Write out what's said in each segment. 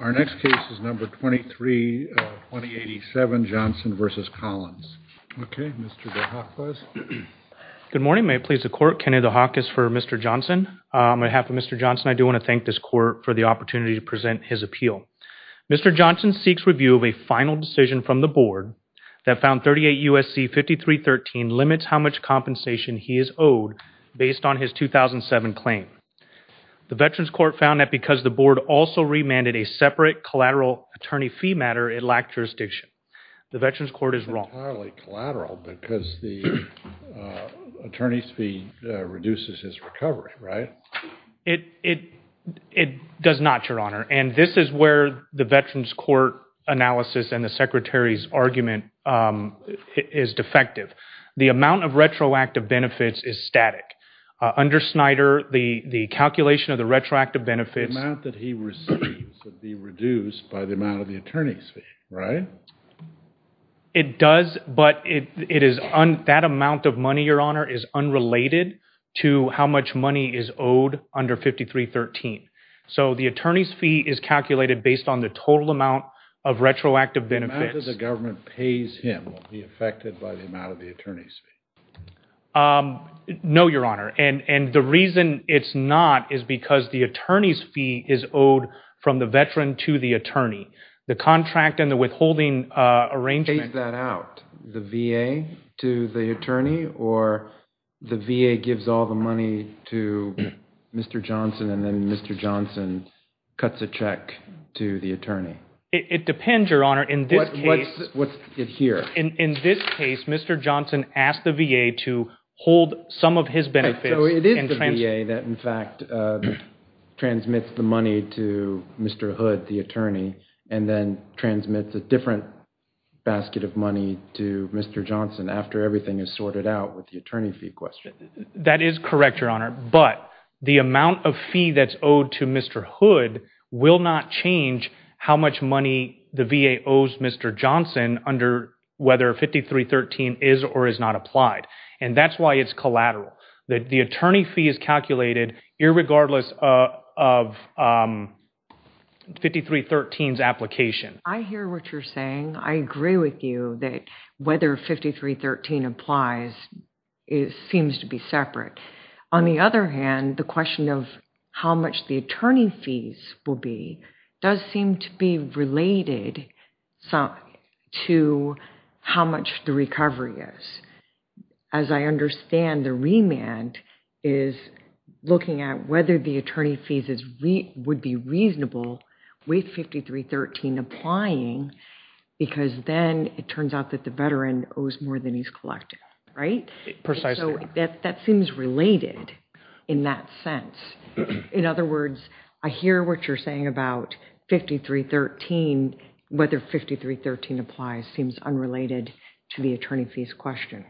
Our next case is number 23, 2087, Johnson v. Collins. Okay, Mr. DeHakwas. Good morning. May it please the Court, Kenny DeHakwas for Mr. Johnson. On behalf of Mr. Johnson, I do want to thank this Court for the opportunity to present his appeal. Mr. Johnson seeks review of a final decision from the Board that found 38 U.S.C. 5313 limits how much compensation he is owed based on his 2007 claim. The Veterans Court found that because the Board also remanded a separate collateral attorney fee matter, it lacked jurisdiction. The Veterans Court is wrong. It's entirely collateral because the attorney's fee reduces his recovery, right? It does not, Your Honor, and this is where the Veterans Court analysis and the Secretary's argument is defective. The amount of retroactive benefits is static. Under Snyder, the calculation of the retroactive benefits... The amount that he receives would be reduced by the amount of the attorney's fee, right? It does, but that amount of money, Your Honor, is unrelated to how much money is owed under 5313. So the attorney's fee is calculated based on the total amount of retroactive benefits. The amount that the government pays him will be affected by the amount of the attorney's fee. No, Your Honor, and the reason it's not is because the attorney's fee is owed from the veteran to the attorney. The contract and the withholding arrangement... Pays that out, the VA to the attorney, or the VA gives all the money to Mr. Johnson and then Mr. Johnson cuts a check to the attorney? It depends, Your Honor. In this case... What's it here? In this case, Mr. Johnson asked the VA to hold some of his benefits... So it is the VA that, in fact, transmits the money to Mr. Hood, the attorney, and then transmits a different basket of money to Mr. Johnson after everything is sorted out with the attorney fee question. That is correct, Your Honor, but the amount of fee that's owed to Mr. Hood will not change how much money the VA owes Mr. Johnson under whether 5313 is or is not applied, and that's why it's collateral. The attorney fee is calculated irregardless of 5313's application. I hear what you're saying. I agree with you that whether 5313 applies seems to be separate. On the other hand, the question of how much the attorney fees will be does seem to be related to how much the recovery is. As I understand, the remand is looking at whether the attorney fees would be reasonable with 5313 applying because then it turns out that the veteran owes more than he's collected, right? Precisely. That seems related in that sense. In other words, I hear what you're saying about whether 5313 applies seems unrelated to the attorney fees question,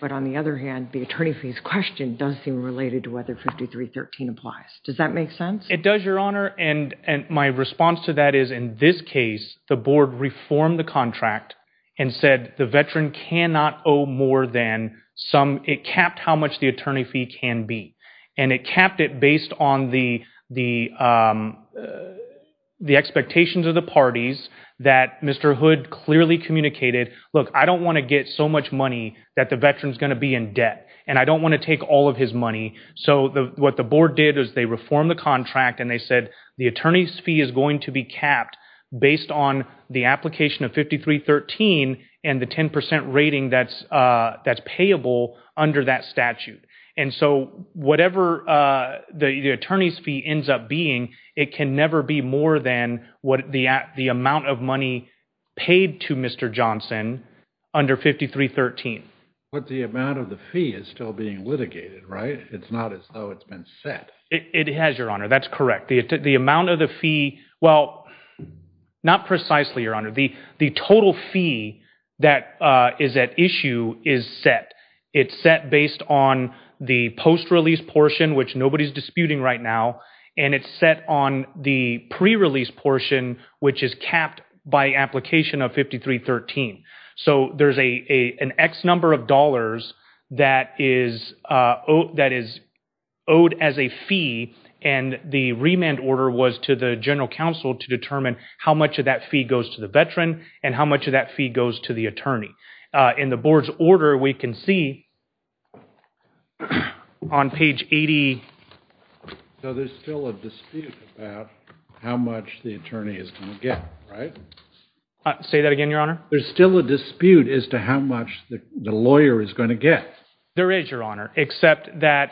but on the other hand, the attorney fees question does seem related to whether 5313 applies. Does that make sense? It does, Your Honor, and my response to that is, in this case, the board reformed the contract and said the veteran cannot owe more than some... It capped how much the attorney fee can be, and it capped it based on the expectations of the parties that Mr. Hood clearly communicated, look, I don't want to get so much money that the veteran's going to be in debt, and I don't want to take all of his money. What the board did is they reformed the contract, and they said the attorney's fee is going to be capped based on the application of 5313 and the 10% rating that's payable under that statute, and so whatever the attorney's fee ends up being, it can never be more than what the amount of money paid to Mr. Johnson under 5313. But the amount of the fee is still being litigated, right? It's not as though it's been set. It has, Your Honor. That's correct. The amount of the fee... Well, not precisely, Your Honor. The total fee that is at issue is set. It's set based on the post-release portion, which nobody's disputing right now, and it's set on the pre-release portion, which is capped by application of 5313. So there's an X number of dollars that is owed as a fee, and the remand order was to the general counsel to determine how much of that fee goes to the veteran and how much of that fee goes to the attorney. In the board's order, we can see on page 80... So there's still a dispute about how much the attorney is going to get, right? Say that again, Your Honor? There's still a dispute as to how much the lawyer is going to get. There is, Your Honor, except that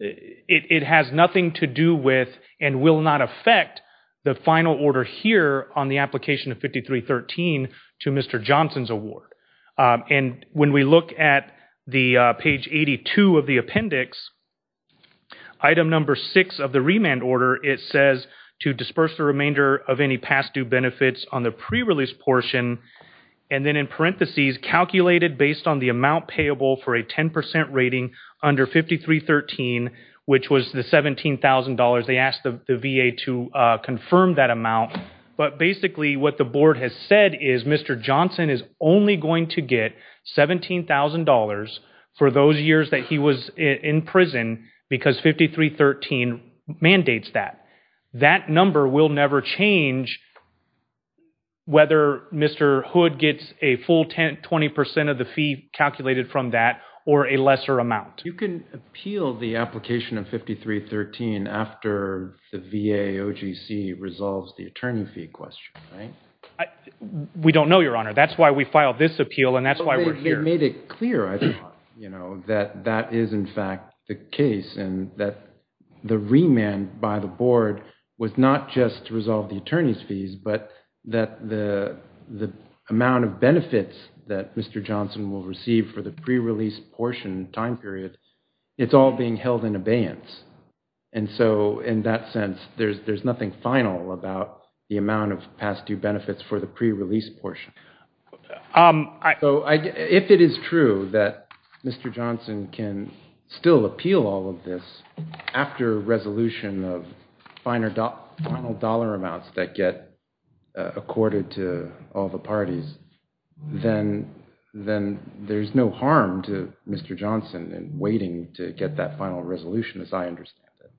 it has nothing to do with and will not affect the final order here on the application of 5313 to Mr. Johnson's award. And when we look at page 82 of the appendix, item number six of the remand order, it says to disperse the remainder of any past due benefits on the pre-release portion, and then in parentheses, calculated based on the amount payable for a 10% rating under 5313, which was the $17,000. They asked the VA to confirm that amount. But basically what the board has said is Mr. Johnson is only going to get $17,000 for those years that he was in prison because 5313 mandates that. That number will never change whether Mr. Hood gets a full 20% of the fee calculated from that or a lesser amount. You can appeal the application of 5313 after the VA OGC resolves the attorney fee question, right? We don't know, Your Honor. That's why we filed this appeal, and that's why we're here. You made it clear, I thought, that that is in fact the case, and that the remand by the board was not just to resolve the attorney's fees, but that the amount of benefits that Mr. Johnson will receive for the pre-release portion time period, it's all being held in abeyance. And so in that sense, there's nothing final about the amount of past due benefits for the pre-release portion. So if it is true that Mr. Johnson can still appeal all of this after resolution of final dollar amounts that get accorded to all the parties, then there's no harm to Mr. Johnson in waiting to get that final resolution as I understand it.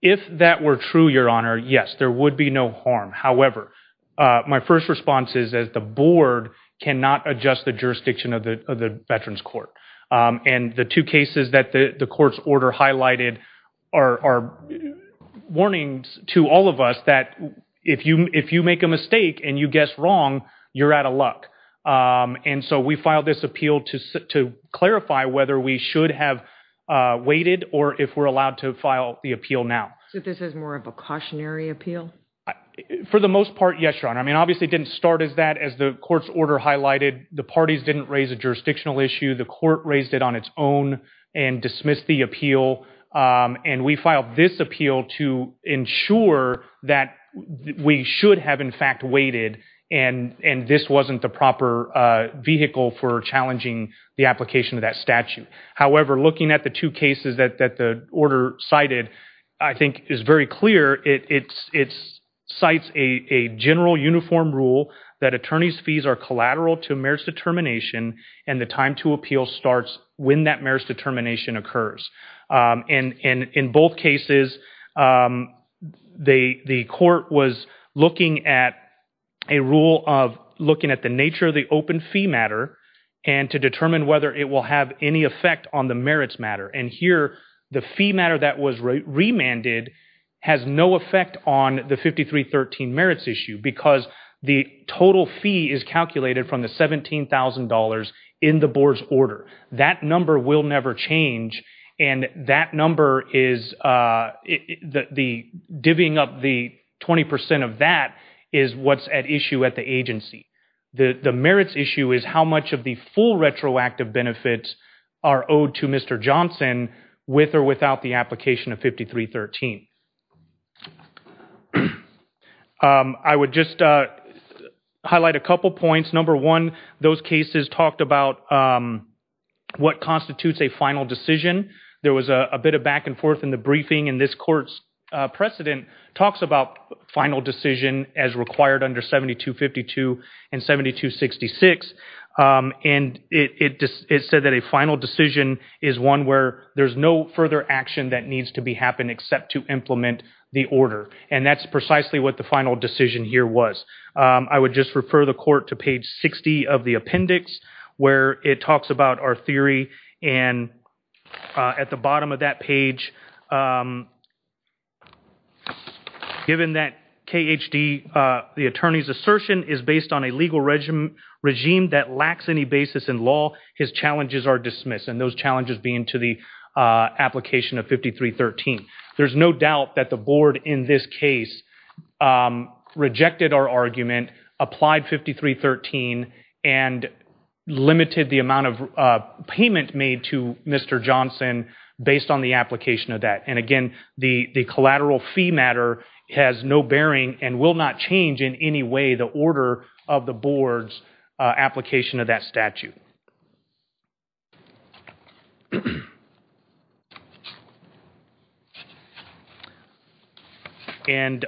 If that were true, Your Honor, yes, there would be no harm. However, my first response is that the board cannot adjust the jurisdiction of the Veterans Court. And the two cases that the court's order highlighted are warnings to all of us that if you make a mistake and you guess wrong, you're out of luck. And so we filed this appeal to clarify whether we should have waited or if we're allowed to file the appeal now. So this is more of a cautionary appeal? For the most part, yes, Your Honor. I mean, obviously it didn't start as that as the court's order highlighted. The parties didn't raise a jurisdictional issue. The court raised it on its own and dismissed the appeal. And we filed this appeal to ensure that we should have, in fact, waited and this wasn't the proper vehicle for challenging the application of that statute. However, looking at the two cases that the order cited, I think it's very clear it cites a general uniform rule that attorney's fees are collateral to marriage determination and the time to appeal starts when that marriage determination occurs. In both cases, the court was looking at a rule of looking at the nature of the open fee matter and to determine whether it will have any effect on the merits matter. And here, the fee matter that was remanded has no effect on the 5313 merits issue because the total fee is calculated from the $17,000 in the board's order. That number will never change and that number is the divvying up the 20% of that is what's at issue at the agency. The merits issue is how much of the full retroactive benefits are owed to Mr. Johnson with or without the application of 5313. I would just highlight a couple points. Number one, those cases talked about what constitutes a final decision. There was a bit of back and forth in the briefing and this court's precedent talks about final decision as required under 7252 and 7266 and it said that a final decision is one where there's no further action that needs to be happened except to implement the order. And that's precisely what the final decision here was. I would just refer the court to page 60 of the appendix where it talks about our theory and at the bottom of that page, given that KHD, the attorney's assertion is based on a legal regime that lacks any basis in law, his challenges are dismissed and those challenges being to the application of 5313. There's no doubt that the board in this case rejected our argument, applied 5313 and limited the amount of payment made to Mr. Johnson based on the application of that. And again, the collateral fee matter has no bearing and will not change in any way the order of the board's application of that statute. And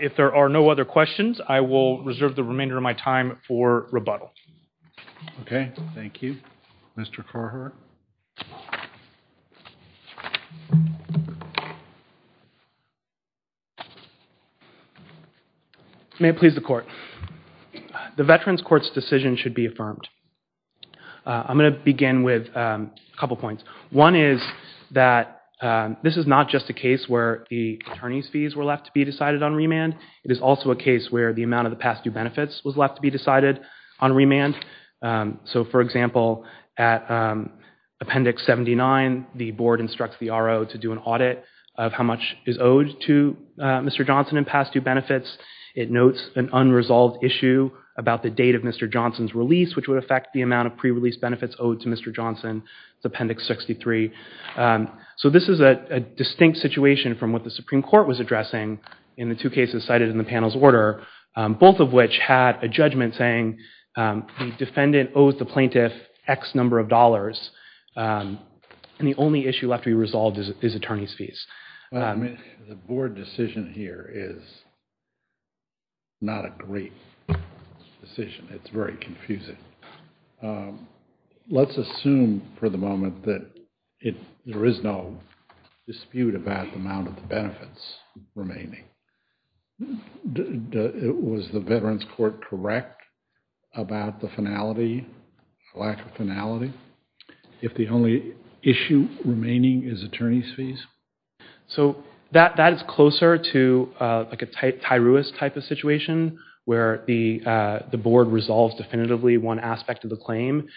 if there are no other questions, I will reserve the remainder of my time for rebuttal. Okay. Thank you. Mr. Carhart. May it please the court. The Veterans Court's decision should be affirmed. I'm going to begin with a couple of points. One is that this is not just a case where the attorney's fees were left to be decided on remand. It is also a case where the amount of the past due benefits was left to be decided on remand. So for example, at Appendix 79, the board instructs the RO to do an audit of how much is owed to Mr. Johnson in past due benefits. It notes an unresolved issue about the date of Mr. Johnson's release, which would affect the amount of pre-release benefits owed to Mr. Johnson. It's Appendix 63. So this is a distinct situation from what the Supreme Court was addressing in the two had a judgment saying the defendant owes the plaintiff X number of dollars and the only issue left to be resolved is attorney's fees. The board decision here is not a great decision. It's very confusing. Let's assume for the moment that there is no dispute about the amount of benefits remaining. Was the Veterans Court correct about the finality, lack of finality, if the only issue remaining is attorney's fees? So that is closer to like a Tyruis type of situation where the board resolves definitively one aspect of the claim.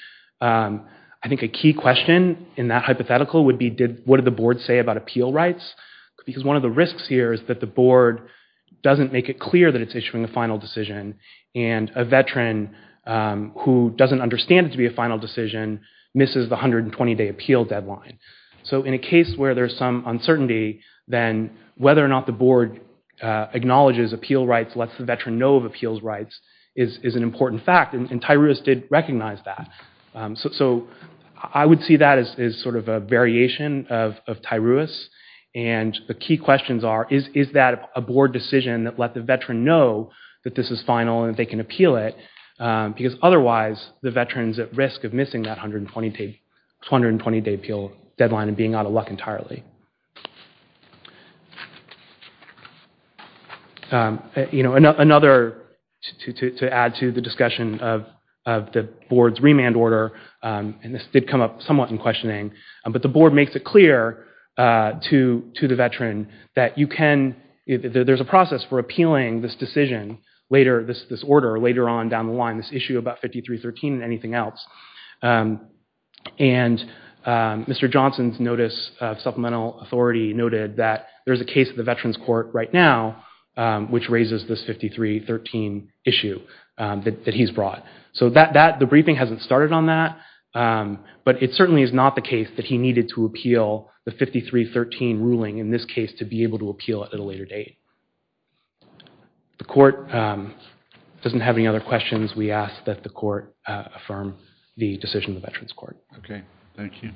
I think a key question in that hypothetical would be what did the board say about appeal rights because one of the risks here is that the board doesn't make it clear that it's issuing a final decision and a veteran who doesn't understand it to be a final decision misses the 120-day appeal deadline. So in a case where there's some uncertainty, then whether or not the board acknowledges appeal rights, lets the veteran know of appeals rights is an important fact and Tyruis did recognize that. So I would see that as sort of a variation of Tyruis and the key questions are is that a board decision that let the veteran know that this is final and they can appeal it because otherwise the veteran is at risk of missing that 120-day appeal deadline and being out of luck entirely. Another, to add to the discussion of the board's remand order, and this did come up somewhat in questioning, but the board makes it clear to the veteran that you can, there's a process for appealing this decision later, this order later on down the line, this issue about 5313 and anything else. And Mr. Johnson's notice of supplemental authority noted that there's a case of the veterans court right now which raises this 5313 issue that he's brought. So the briefing hasn't started on that, but it certainly is not the case that he needed to appeal the 5313 ruling in this case to be able to appeal it at a later date. The court doesn't have any other questions. We ask that the court affirm the decision of the veterans court. Okay, thank you.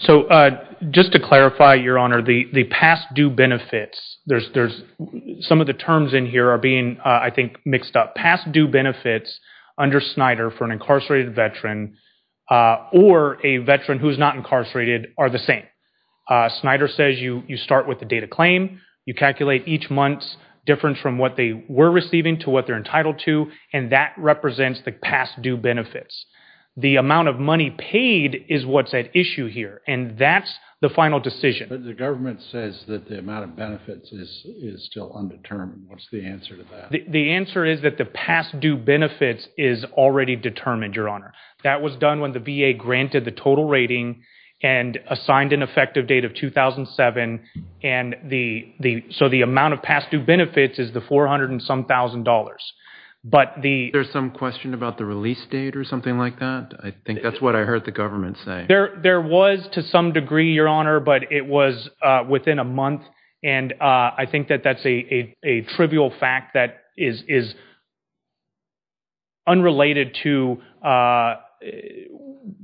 So just to clarify, Your Honor, the past due benefits, there's some of the terms in here are being, I think, mixed up. Past due benefits under Snyder for an incarcerated veteran or a veteran who's not incarcerated are the same. Snyder says you start with the date of claim, you calculate each month's difference from what they were receiving to what they're entitled to, and that represents the past due benefits. The amount of money paid is what's at issue here, and that's the final decision. But the government says that the amount of benefits is still undetermined. What's the answer to that? The answer is that the past due benefits is already determined, Your Honor. That was done when the VA granted the total rating and assigned an effective date of 2007. So the amount of past due benefits is the 400 and some thousand dollars. But the... There's some question about the release date or something like that? I think that's what I heard the government say. There was to some degree, Your Honor, but it was within a month. And I think that that's a trivial fact that is unrelated to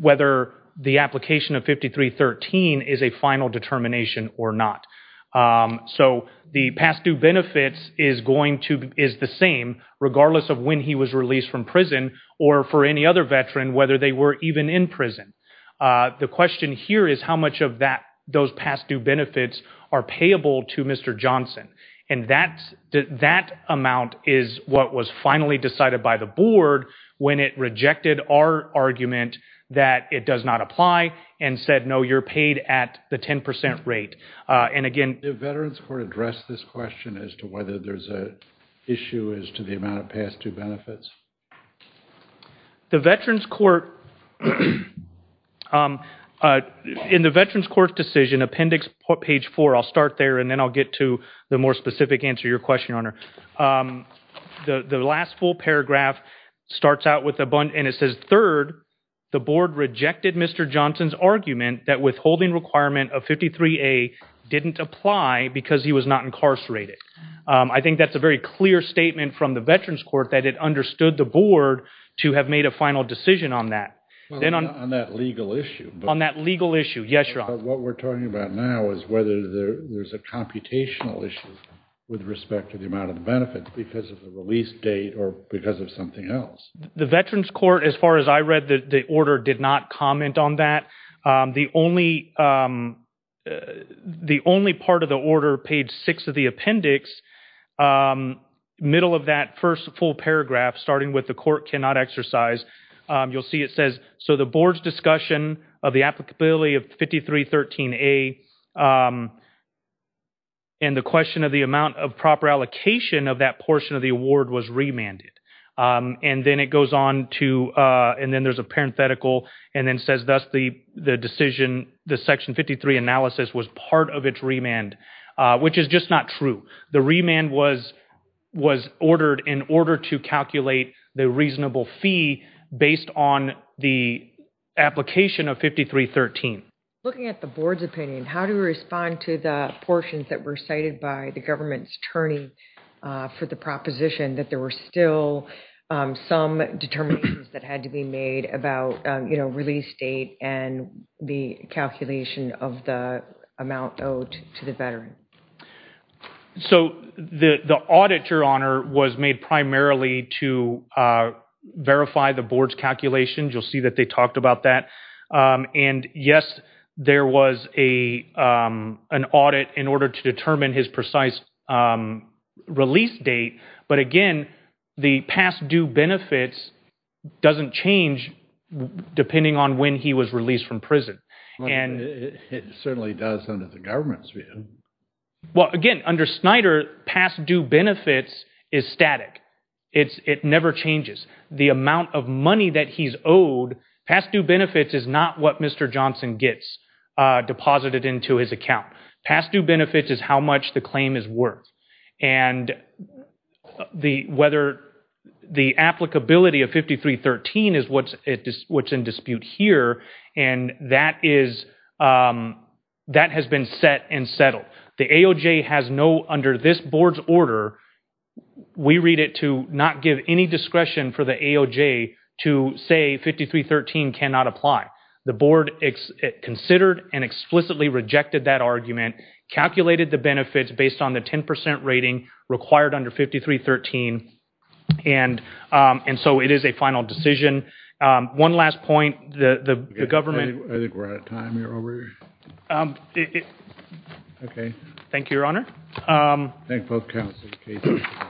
whether the application of 5313 is a final determination or not. So the past due benefits is the same regardless of when he was released from prison or for any other veteran, whether they were even in prison. The question here is how much of those past due benefits are payable to Mr. Johnson. And that amount is what was finally decided by the board when it rejected our argument that it does not apply and said, no, you're paid at the 10% rate. And again... Did Veterans Court address this question as to whether there's a issue as to the amount of past due benefits? The Veterans Court... In the Veterans Court decision, appendix page four, I'll start there and then I'll get to the more specific answer to your question, Your Honor. The last full paragraph starts out with... And it says, third, the board rejected Mr. Johnson's argument that withholding requirement of 53A didn't apply because he was not incarcerated. I think that's a very clear statement from the Veterans Court that it understood the board to have made a final decision on that. Well, not on that legal issue. On that legal issue. Yes, Your Honor. What we're talking about now is whether there's a computational issue with respect to the amount of benefits because of the release date or because of something else. The Veterans Court, as far as I read, the order did not comment on that. The only part of the order, page six of the appendix, middle of that first full paragraph, starting with the court cannot exercise, you'll see it says, so the board's discussion of the applicability of 5313A and the question of the amount of proper allocation of that portion of the award was remanded. And then it goes on to, and then there's a parenthetical and then says, thus the decision, the section 53 analysis was part of its remand, which is just not true. The remand was ordered in order to calculate the reasonable fee based on the application of 5313. Looking at the board's opinion, how do we respond to the portions that were cited by the government's attorney for the proposition that there were still some determinations that had to be made about, you know, release date and the calculation of the amount owed to the veteran? So the audit, Your Honor, was made primarily to verify the board's calculations. You'll see that they talked about that. And yes, there was an audit in order to determine his precise release date. But again, the past due benefits doesn't change depending on when he was released from prison. Well, it certainly does under the government's view. Well, again, under Snyder, past due benefits is static. It never changes. The amount of money that he's owed, past due benefits is not what Mr. Johnson gets deposited into his account. Past due benefits is how much the claim is worth. And whether the applicability of 5313 is what's in dispute here, and that has been set and the AOJ has no, under this board's order, we read it to not give any discretion for the AOJ to say 5313 cannot apply. The board considered and explicitly rejected that argument, calculated the benefits based on the 10% rating required under 5313, and so it is a final decision. One last point. I think we're out of time here. Okay. Thank you, Your Honor. Thank both counsels.